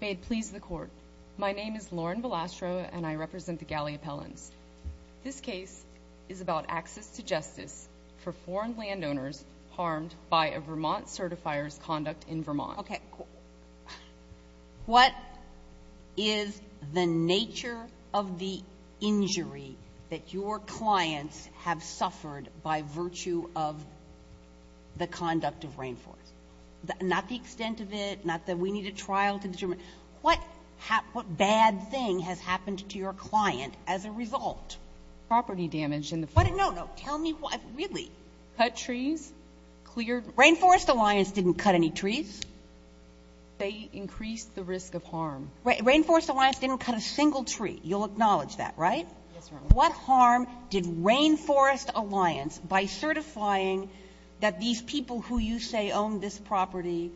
May it please the court. My name is Lauren Velastro and I represent the Galley Appellants. This case is about access to justice for foreign landowners harmed by a Vermont certifier's conduct in Vermont. Okay, cool. What is the nature of the injury that your clients have suffered by virtue of the conduct of Rainforest? Not the extent of it, not that we need a trial to determine. What bad thing has happened to your client as a result? Property damage in the forest. No, no, tell me what, really. Cut trees, cleared. Rainforest Alliance didn't cut any trees. They increased the risk of harm. Rainforest Alliance didn't cut a single tree. You'll acknowledge that, right? Yes, Your Honor. What harm did Rainforest Alliance, by certifying that these people who you say own this property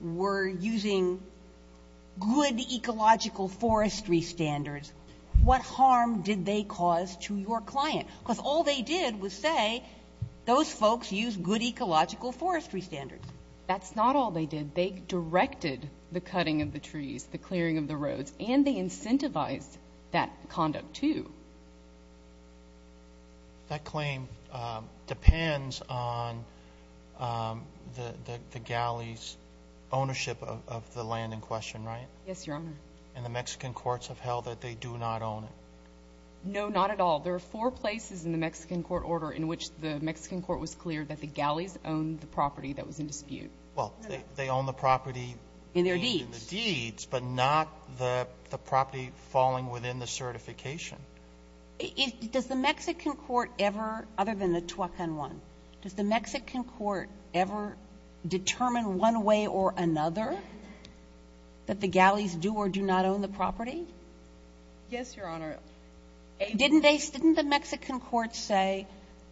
were using good ecological forestry standards, what harm did they cause to your client? Because all they did was say those folks use good ecological forestry standards. That's not all they did. They directed the cutting of the trees, the clearing of the roads, and they incentivized that conduct, too. That claim depends on the galleys' ownership of the land in question, right? Yes, Your Honor. And the Mexican courts have held that they do not own it. No, not at all. There are four places in the Mexican court order in which the Mexican court was clear that the galleys owned the property that was in dispute. Well, they own the property. In their deeds. In their deeds, but not the property falling within the certification. Does the Mexican court ever, other than the Tuacan one, does the Mexican court ever determine one way or another that the galleys do or do not own the property? Yes, Your Honor. Didn't the Mexican court say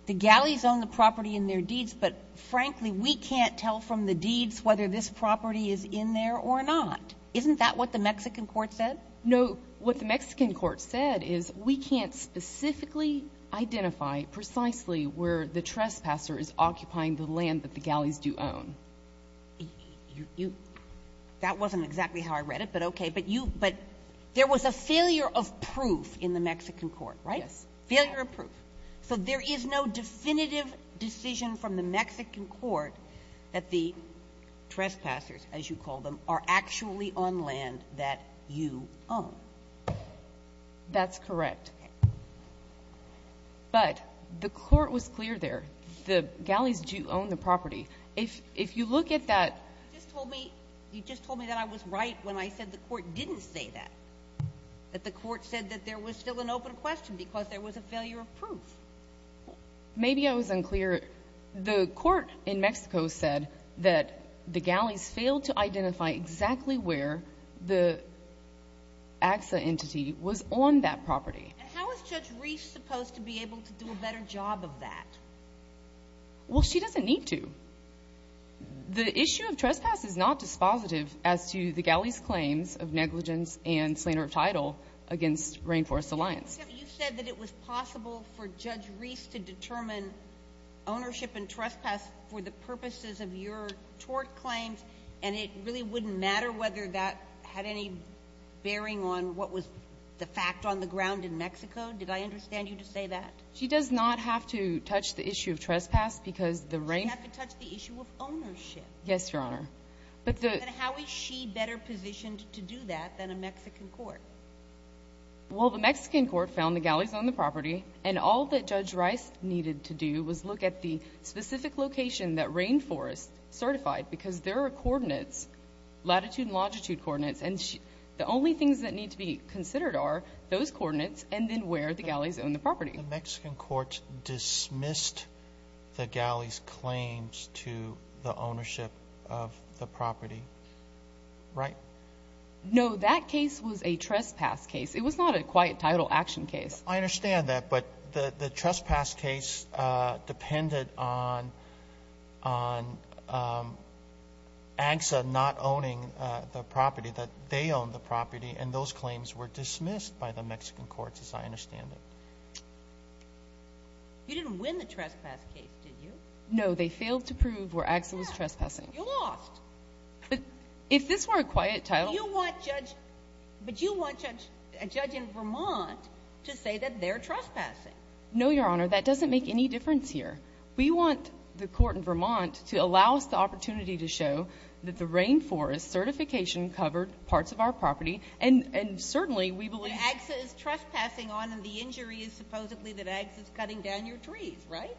the galleys own the property in their deeds, but, frankly, we can't tell from the deeds whether this property is in there or not? Isn't that what the Mexican court said? No. What the Mexican court said is we can't specifically identify precisely where the trespasser is occupying the land that the galleys do own. You — that wasn't exactly how I read it, but okay. But you — but there was a failure of proof in the Mexican court, right? Yes. Failure of proof. So there is no definitive decision from the Mexican court that the trespassers, as you call them, are actually on land that you own. That's correct. Okay. But the court was clear there. The galleys do own the property. If you look at that — You just told me — you just told me that I was right when I said the court didn't say that, that the court said that there was still an open question because there was a failure of proof. Maybe I was unclear. The court in Mexico said that the galleys failed to identify exactly where the AXA entity was on that property. And how is Judge Reese supposed to be able to do a better job of that? Well, she doesn't need to. The issue of trespass is not dispositive as to the galleys' claims of negligence and slander of title against Rainforest Alliance. You said that it was possible for Judge Reese to determine ownership and trespass for the purposes of your tort claims, and it really wouldn't matter whether that had any bearing on what was the fact on the ground in Mexico? Did I understand you to say that? She does not have to touch the issue of trespass because the rain — You have to touch the issue of ownership. Yes, Your Honor. And how is she better positioned to do that than a Mexican court? Well, the Mexican court found the galleys own the property, and all that Judge Rice needed to do was look at the specific location that Rainforest certified because there are coordinates, latitude and longitude coordinates, and the only things that need to be considered are those coordinates and then where the galleys own the property. The Mexican court dismissed the galleys' claims to the ownership of the property, right? No, that case was a trespass case. It was not a quiet title action case. I understand that, but the trespass case depended on AGSA not owning the property, and those claims were dismissed by the Mexican courts, as I understand it. You didn't win the trespass case, did you? No. They failed to prove where AGSA was trespassing. You lost. But if this were a quiet title — But you want a judge in Vermont to say that they're trespassing. No, Your Honor. That doesn't make any difference here. We want the court in Vermont to allow us the opportunity to show that the Rainforest certification covered parts of our property, and certainly we believe — But AGSA is trespassing on, and the injury is supposedly that AGSA is cutting down your trees, right?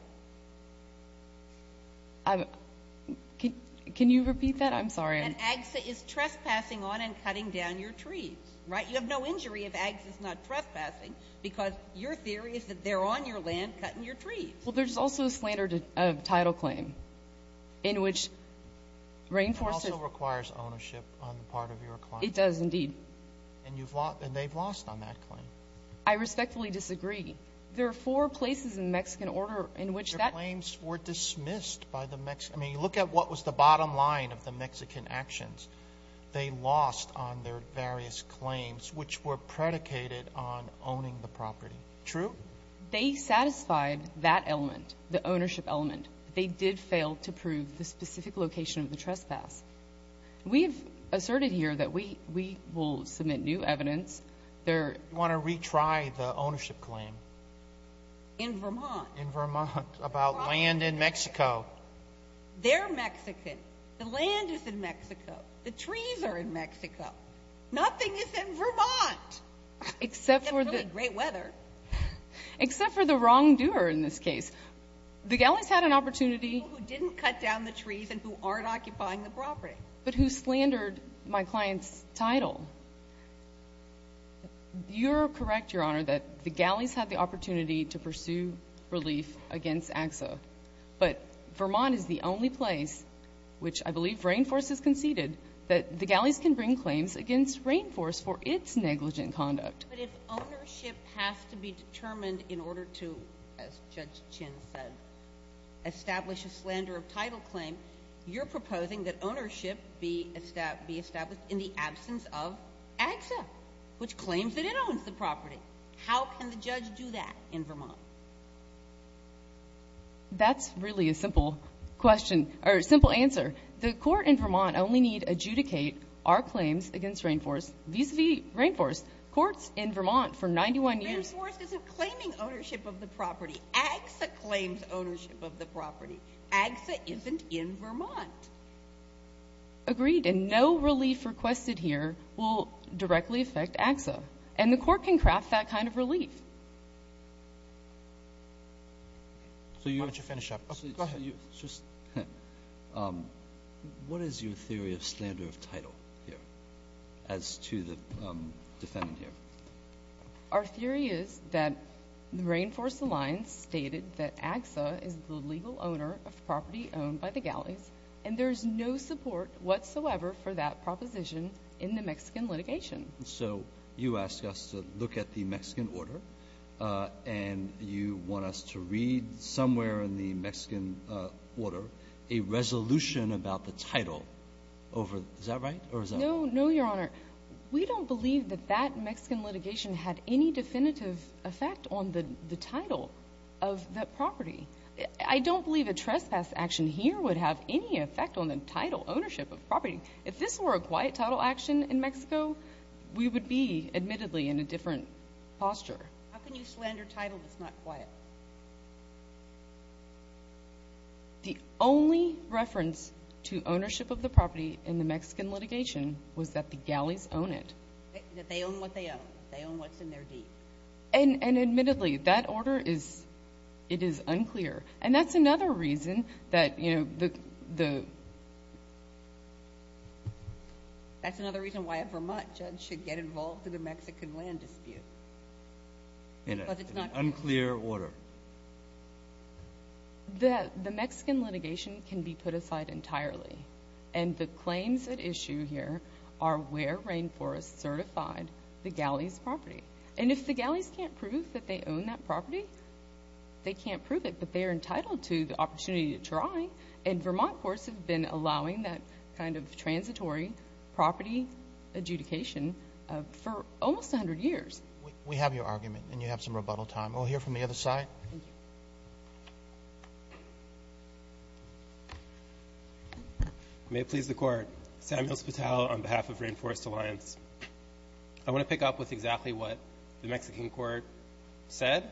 Can you repeat that? I'm sorry. And AGSA is trespassing on and cutting down your trees, right? You have no injury if AGSA is not trespassing because your theory is that they're on your land cutting your trees. Well, there's also a slander of title claim in which Rainforest — It also requires ownership on the part of your client. It does, indeed. And they've lost on that claim. I respectfully disagree. There are four places in the Mexican order in which that — Your claims were dismissed by the Mexican. I mean, look at what was the bottom line of the Mexican actions. They lost on their various claims, which were predicated on owning the property. True? They satisfied that element, the ownership element. They did fail to prove the specific location of the trespass. We have asserted here that we will submit new evidence. You want to retry the ownership claim? In Vermont. In Vermont, about land in Mexico. They're Mexican. The land is in Mexico. The trees are in Mexico. Nothing is in Vermont. Except for the — Except for the great weather. Except for the wrongdoer in this case. The galleys had an opportunity — People who didn't cut down the trees and who aren't occupying the property. But who slandered my client's title. You're correct, Your Honor, that the galleys had the opportunity to pursue relief against AXA. But Vermont is the only place, which I believe Rainforest has conceded, that the galleys can bring claims against Rainforest for its negligent conduct. But if ownership has to be determined in order to, as Judge Chin said, establish a slander of title claim, you're proposing that ownership be established in the absence of AXA, which claims that it owns the property. How can the judge do that in Vermont? That's really a simple question, or a simple answer. The court in Vermont only need adjudicate our claims against Rainforest vis-a-vis Rainforest. Court's in Vermont for 91 years. Rainforest isn't claiming ownership of the property. AXA claims ownership of the property. AXA isn't in Vermont. Agreed. And no relief requested here will directly affect AXA. And the court can craft that kind of relief. Why don't you finish up? Go ahead. What is your theory of slander of title here as to the defendant here? Our theory is that the Rainforest Alliance stated that AXA is the legal owner of property owned by the galleys, and there is no support whatsoever for that proposition in the Mexican litigation. So you ask us to look at the Mexican order, and you want us to read somewhere in the Mexican order a resolution about the title. Is that right? No, Your Honor. We don't believe that that Mexican litigation had any definitive effect on the title of that property. I don't believe a trespass action here would have any effect on the title ownership of property. If this were a quiet title action in Mexico, we would be, admittedly, in a different posture. How can you slander title that's not quiet? The only reference to ownership of the property in the Mexican litigation was that the galleys own it. That they own what they own. They own what's in their deed. And admittedly, that order is unclear. And that's another reason that, you know, the – That's another reason why a Vermont judge should get involved in a Mexican land dispute. Because it's not clear. In an unclear order. The Mexican litigation can be put aside entirely, and the claims at issue here are where Rainforest certified the galleys' property. And if the galleys can't prove that they own that property, they can't prove it. But they are entitled to the opportunity to try. And Vermont courts have been allowing that kind of transitory property adjudication for almost 100 years. We have your argument, and you have some rebuttal time. We'll hear from the other side. May it please the Court. Samuel Spital on behalf of Rainforest Alliance. I want to pick up with exactly what the Mexican court said.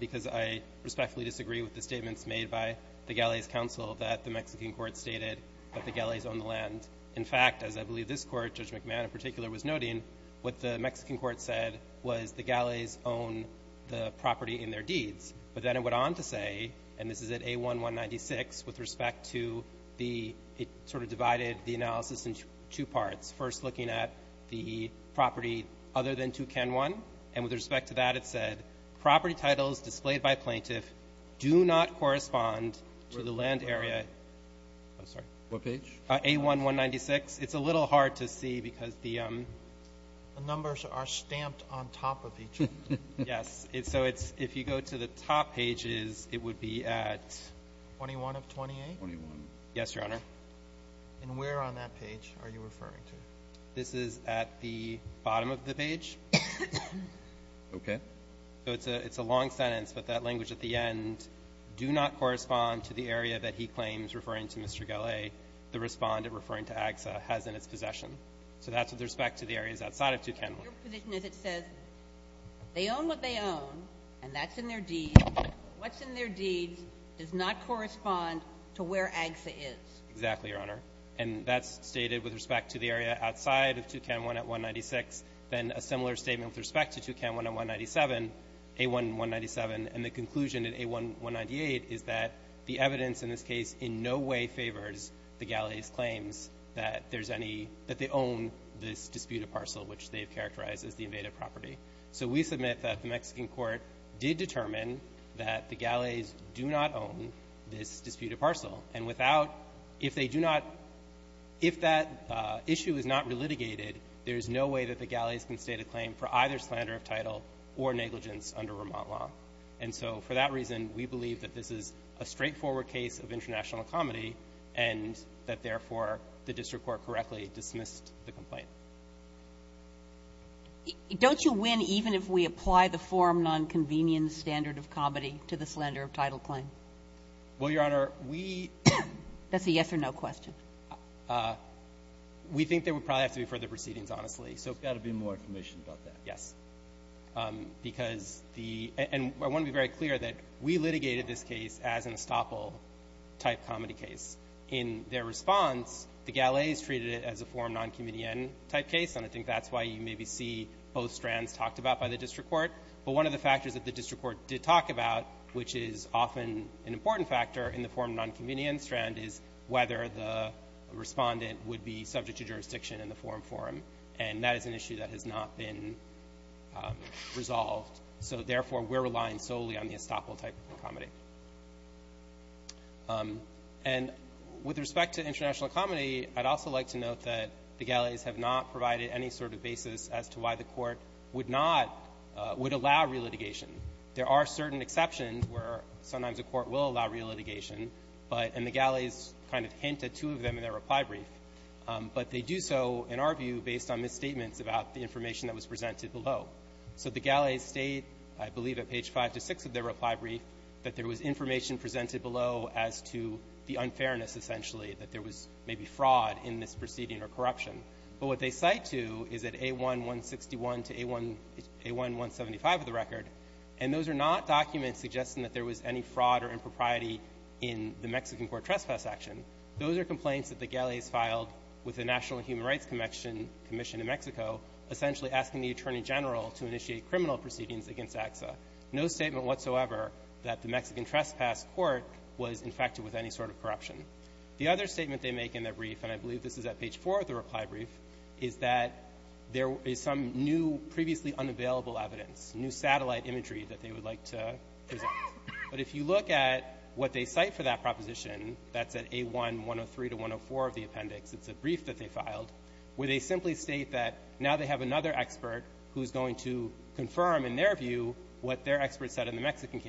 Because I respectfully disagree with the statements made by the galleys' counsel that the Mexican court stated that the galleys own the land. In fact, as I believe this court, Judge McMahon in particular, was noting, what the Mexican court said was the galleys own the property in their deeds. But then it went on to say, and this is at A1-196, with respect to the – it's first looking at the property other than Tucan One. And with respect to that, it said, property titles displayed by plaintiff do not correspond to the land area – I'm sorry. What page? A1-196. It's a little hard to see because the – The numbers are stamped on top of each other. Yes. So it's – if you go to the top pages, it would be at – 21 of 28? 21. Yes, Your Honor. And where on that page are you referring to? This is at the bottom of the page. Okay. So it's a long sentence, but that language at the end, do not correspond to the area that he claims, referring to Mr. Galley, the respondent referring to AGSA, has in its possession. So that's with respect to the areas outside of Tucan One. Your position is it says they own what they own, and that's in their deeds. What's in their deeds does not correspond to where AGSA is. Exactly, Your Honor. And that's stated with respect to the area outside of Tucan One at 196. Then a similar statement with respect to Tucan One at 197, A1-197. And the conclusion in A1-198 is that the evidence in this case in no way favors the Galleys' claims that there's any – that they own this disputed parcel, which they've characterized as the invaded property. So we submit that the Mexican court did determine that the Galleys do not own this If they do not – if that issue is not relitigated, there is no way that the Galleys can state a claim for either slander of title or negligence under Vermont law. And so for that reason, we believe that this is a straightforward case of international comedy and that, therefore, the district court correctly dismissed the complaint. Don't you win even if we apply the forum nonconvenience standard of comedy to the slander of title claim? Well, Your Honor, we – That's a yes or no question. We think there would probably have to be further proceedings, honestly. So – There's got to be more information about that. Yes. Because the – and I want to be very clear that we litigated this case as an estoppel-type comedy case. In their response, the Galleys treated it as a forum nonconvenience-type case, and I think that's why you maybe see both strands talked about by the district court. But one of the factors that the district court did talk about, which is often an important factor in the forum nonconvenience strand, is whether the respondent would be subject to jurisdiction in the forum forum. And that is an issue that has not been resolved. So, therefore, we're relying solely on the estoppel-type comedy. And with respect to international comedy, I'd also like to note that the Galleys have not provided any sort of basis as to why the court would not – would allow re-litigation. There are certain exceptions where sometimes a court will allow re-litigation, but – and the Galleys kind of hint at two of them in their reply brief. But they do so, in our view, based on misstatements about the information that was presented below. So the Galleys state, I believe at page 5-6 of their reply brief, that there was information presented below as to the unfairness, essentially, that there was maybe fraud in this proceeding or corruption. But what they cite to is at A1-161 to A1-175 of the record. And those are not documents suggesting that there was any fraud or impropriety in the Mexican court trespass action. Those are complaints that the Galleys filed with the National Human Rights Commission in Mexico, essentially asking the Attorney General to initiate criminal proceedings against AXA. No statement whatsoever that the Mexican trespass court was infected with any sort of corruption. The other statement they make in their brief, and I believe this is at page 4 of the reply brief, is that there is some new, previously unavailable evidence, new satellite imagery that they would like to present. But if you look at what they cite for that proposition, that's at A1-103 to 104 of the appendix. It's a brief that they filed where they simply state that now they have another expert who is going to confirm, in their view, what their expert said in the Mexican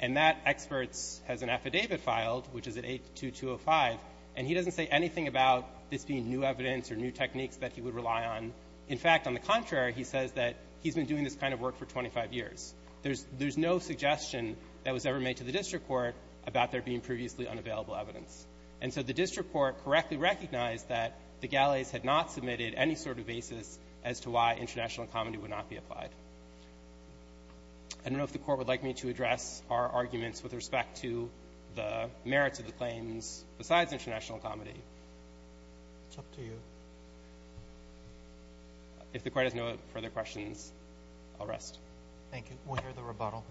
And that expert has an affidavit filed, which is at A2-205, and he doesn't say anything about this being new evidence or new techniques that he would rely on. In fact, on the contrary, he says that he's been doing this kind of work for 25 years. There's no suggestion that was ever made to the district court about there being previously unavailable evidence. And so the district court correctly recognized that the Galleys had not submitted any sort of basis as to why international incomity would not be applied. I don't know if the court would like me to address our arguments with respect to the merits of the claims besides international incomity. It's up to you. If the court has no further questions, I'll rest. Thank you. We'll hear the rebuttal.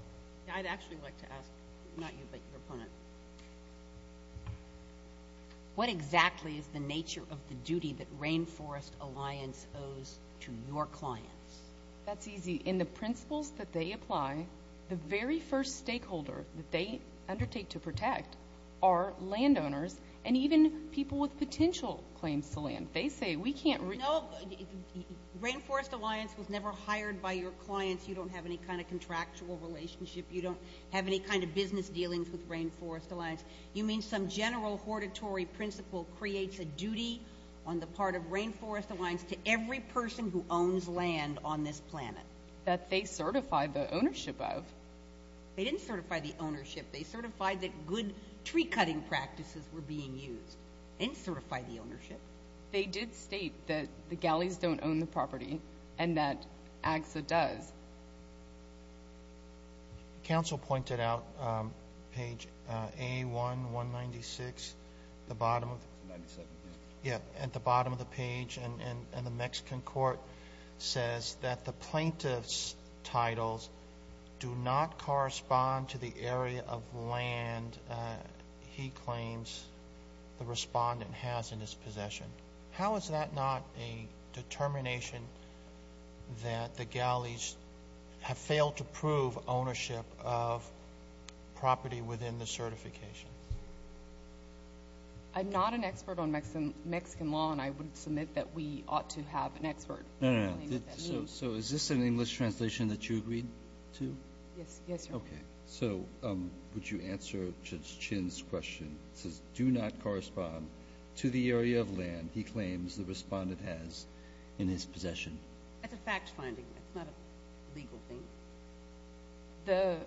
I'd actually like to ask, not you, but your opponent, what exactly is the nature of the duty that Rainforest Alliance owes to your clients? That's easy. In the principles that they apply, the very first stakeholder that they undertake to protect are landowners and even people with potential claims to land. They say, we can't really ---- No, Rainforest Alliance was never hired by your clients. You don't have any kind of contractual relationship. You don't have any kind of business dealings with Rainforest Alliance. You mean some general hortatory principle creates a duty on the part of Rainforest Alliance to every person who owns land on this planet? That they certify the ownership of. They didn't certify the ownership. They certified that good tree-cutting practices were being used. They didn't certify the ownership. They did state that the Galleys don't own the property and that AGSA does. Counsel pointed out page A1, 196, at the bottom of the page, and the Mexican court says that the plaintiff's titles do not correspond to the area of land he claims the respondent has in his possession. How is that not a determination that the Galleys have failed to prove ownership of property within the certification? I'm not an expert on Mexican law, and I would submit that we ought to have an expert. No, no, no. So is this an English translation that you agreed to? Yes, yes, Your Honor. Okay. So would you answer Judge Chin's question? It says, do not correspond to the area of land he claims the respondent has in his possession. That's a fact-finding. It's not a legal thing. The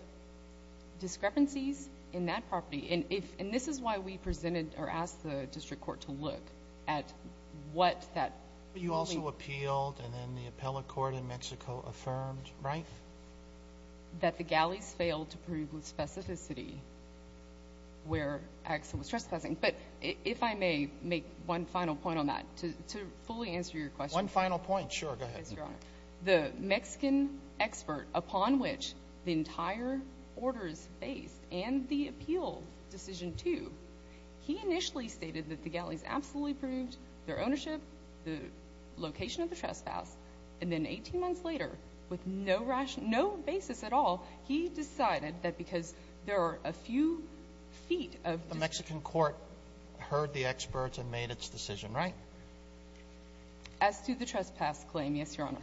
discrepancies in that property, and this is why we presented or asked the district court to look at what that building. But you also appealed, and then the appellate court in Mexico affirmed, right? That the Galleys failed to prove with specificity where Axel was trespassing. But if I may make one final point on that, to fully answer your question. One final point, sure. Go ahead. The Mexican expert upon which the entire order is based and the appeal decision too, he initially stated that the Galleys absolutely proved their ownership, the location of the trespass, and then 18 months later, with no basis at all, he decided that because there are a few feet of The Mexican court heard the experts and made its decision, right? As to the trespass claim, yes, Your Honor.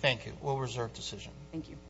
Thank you. We'll reserve decision. Thank you.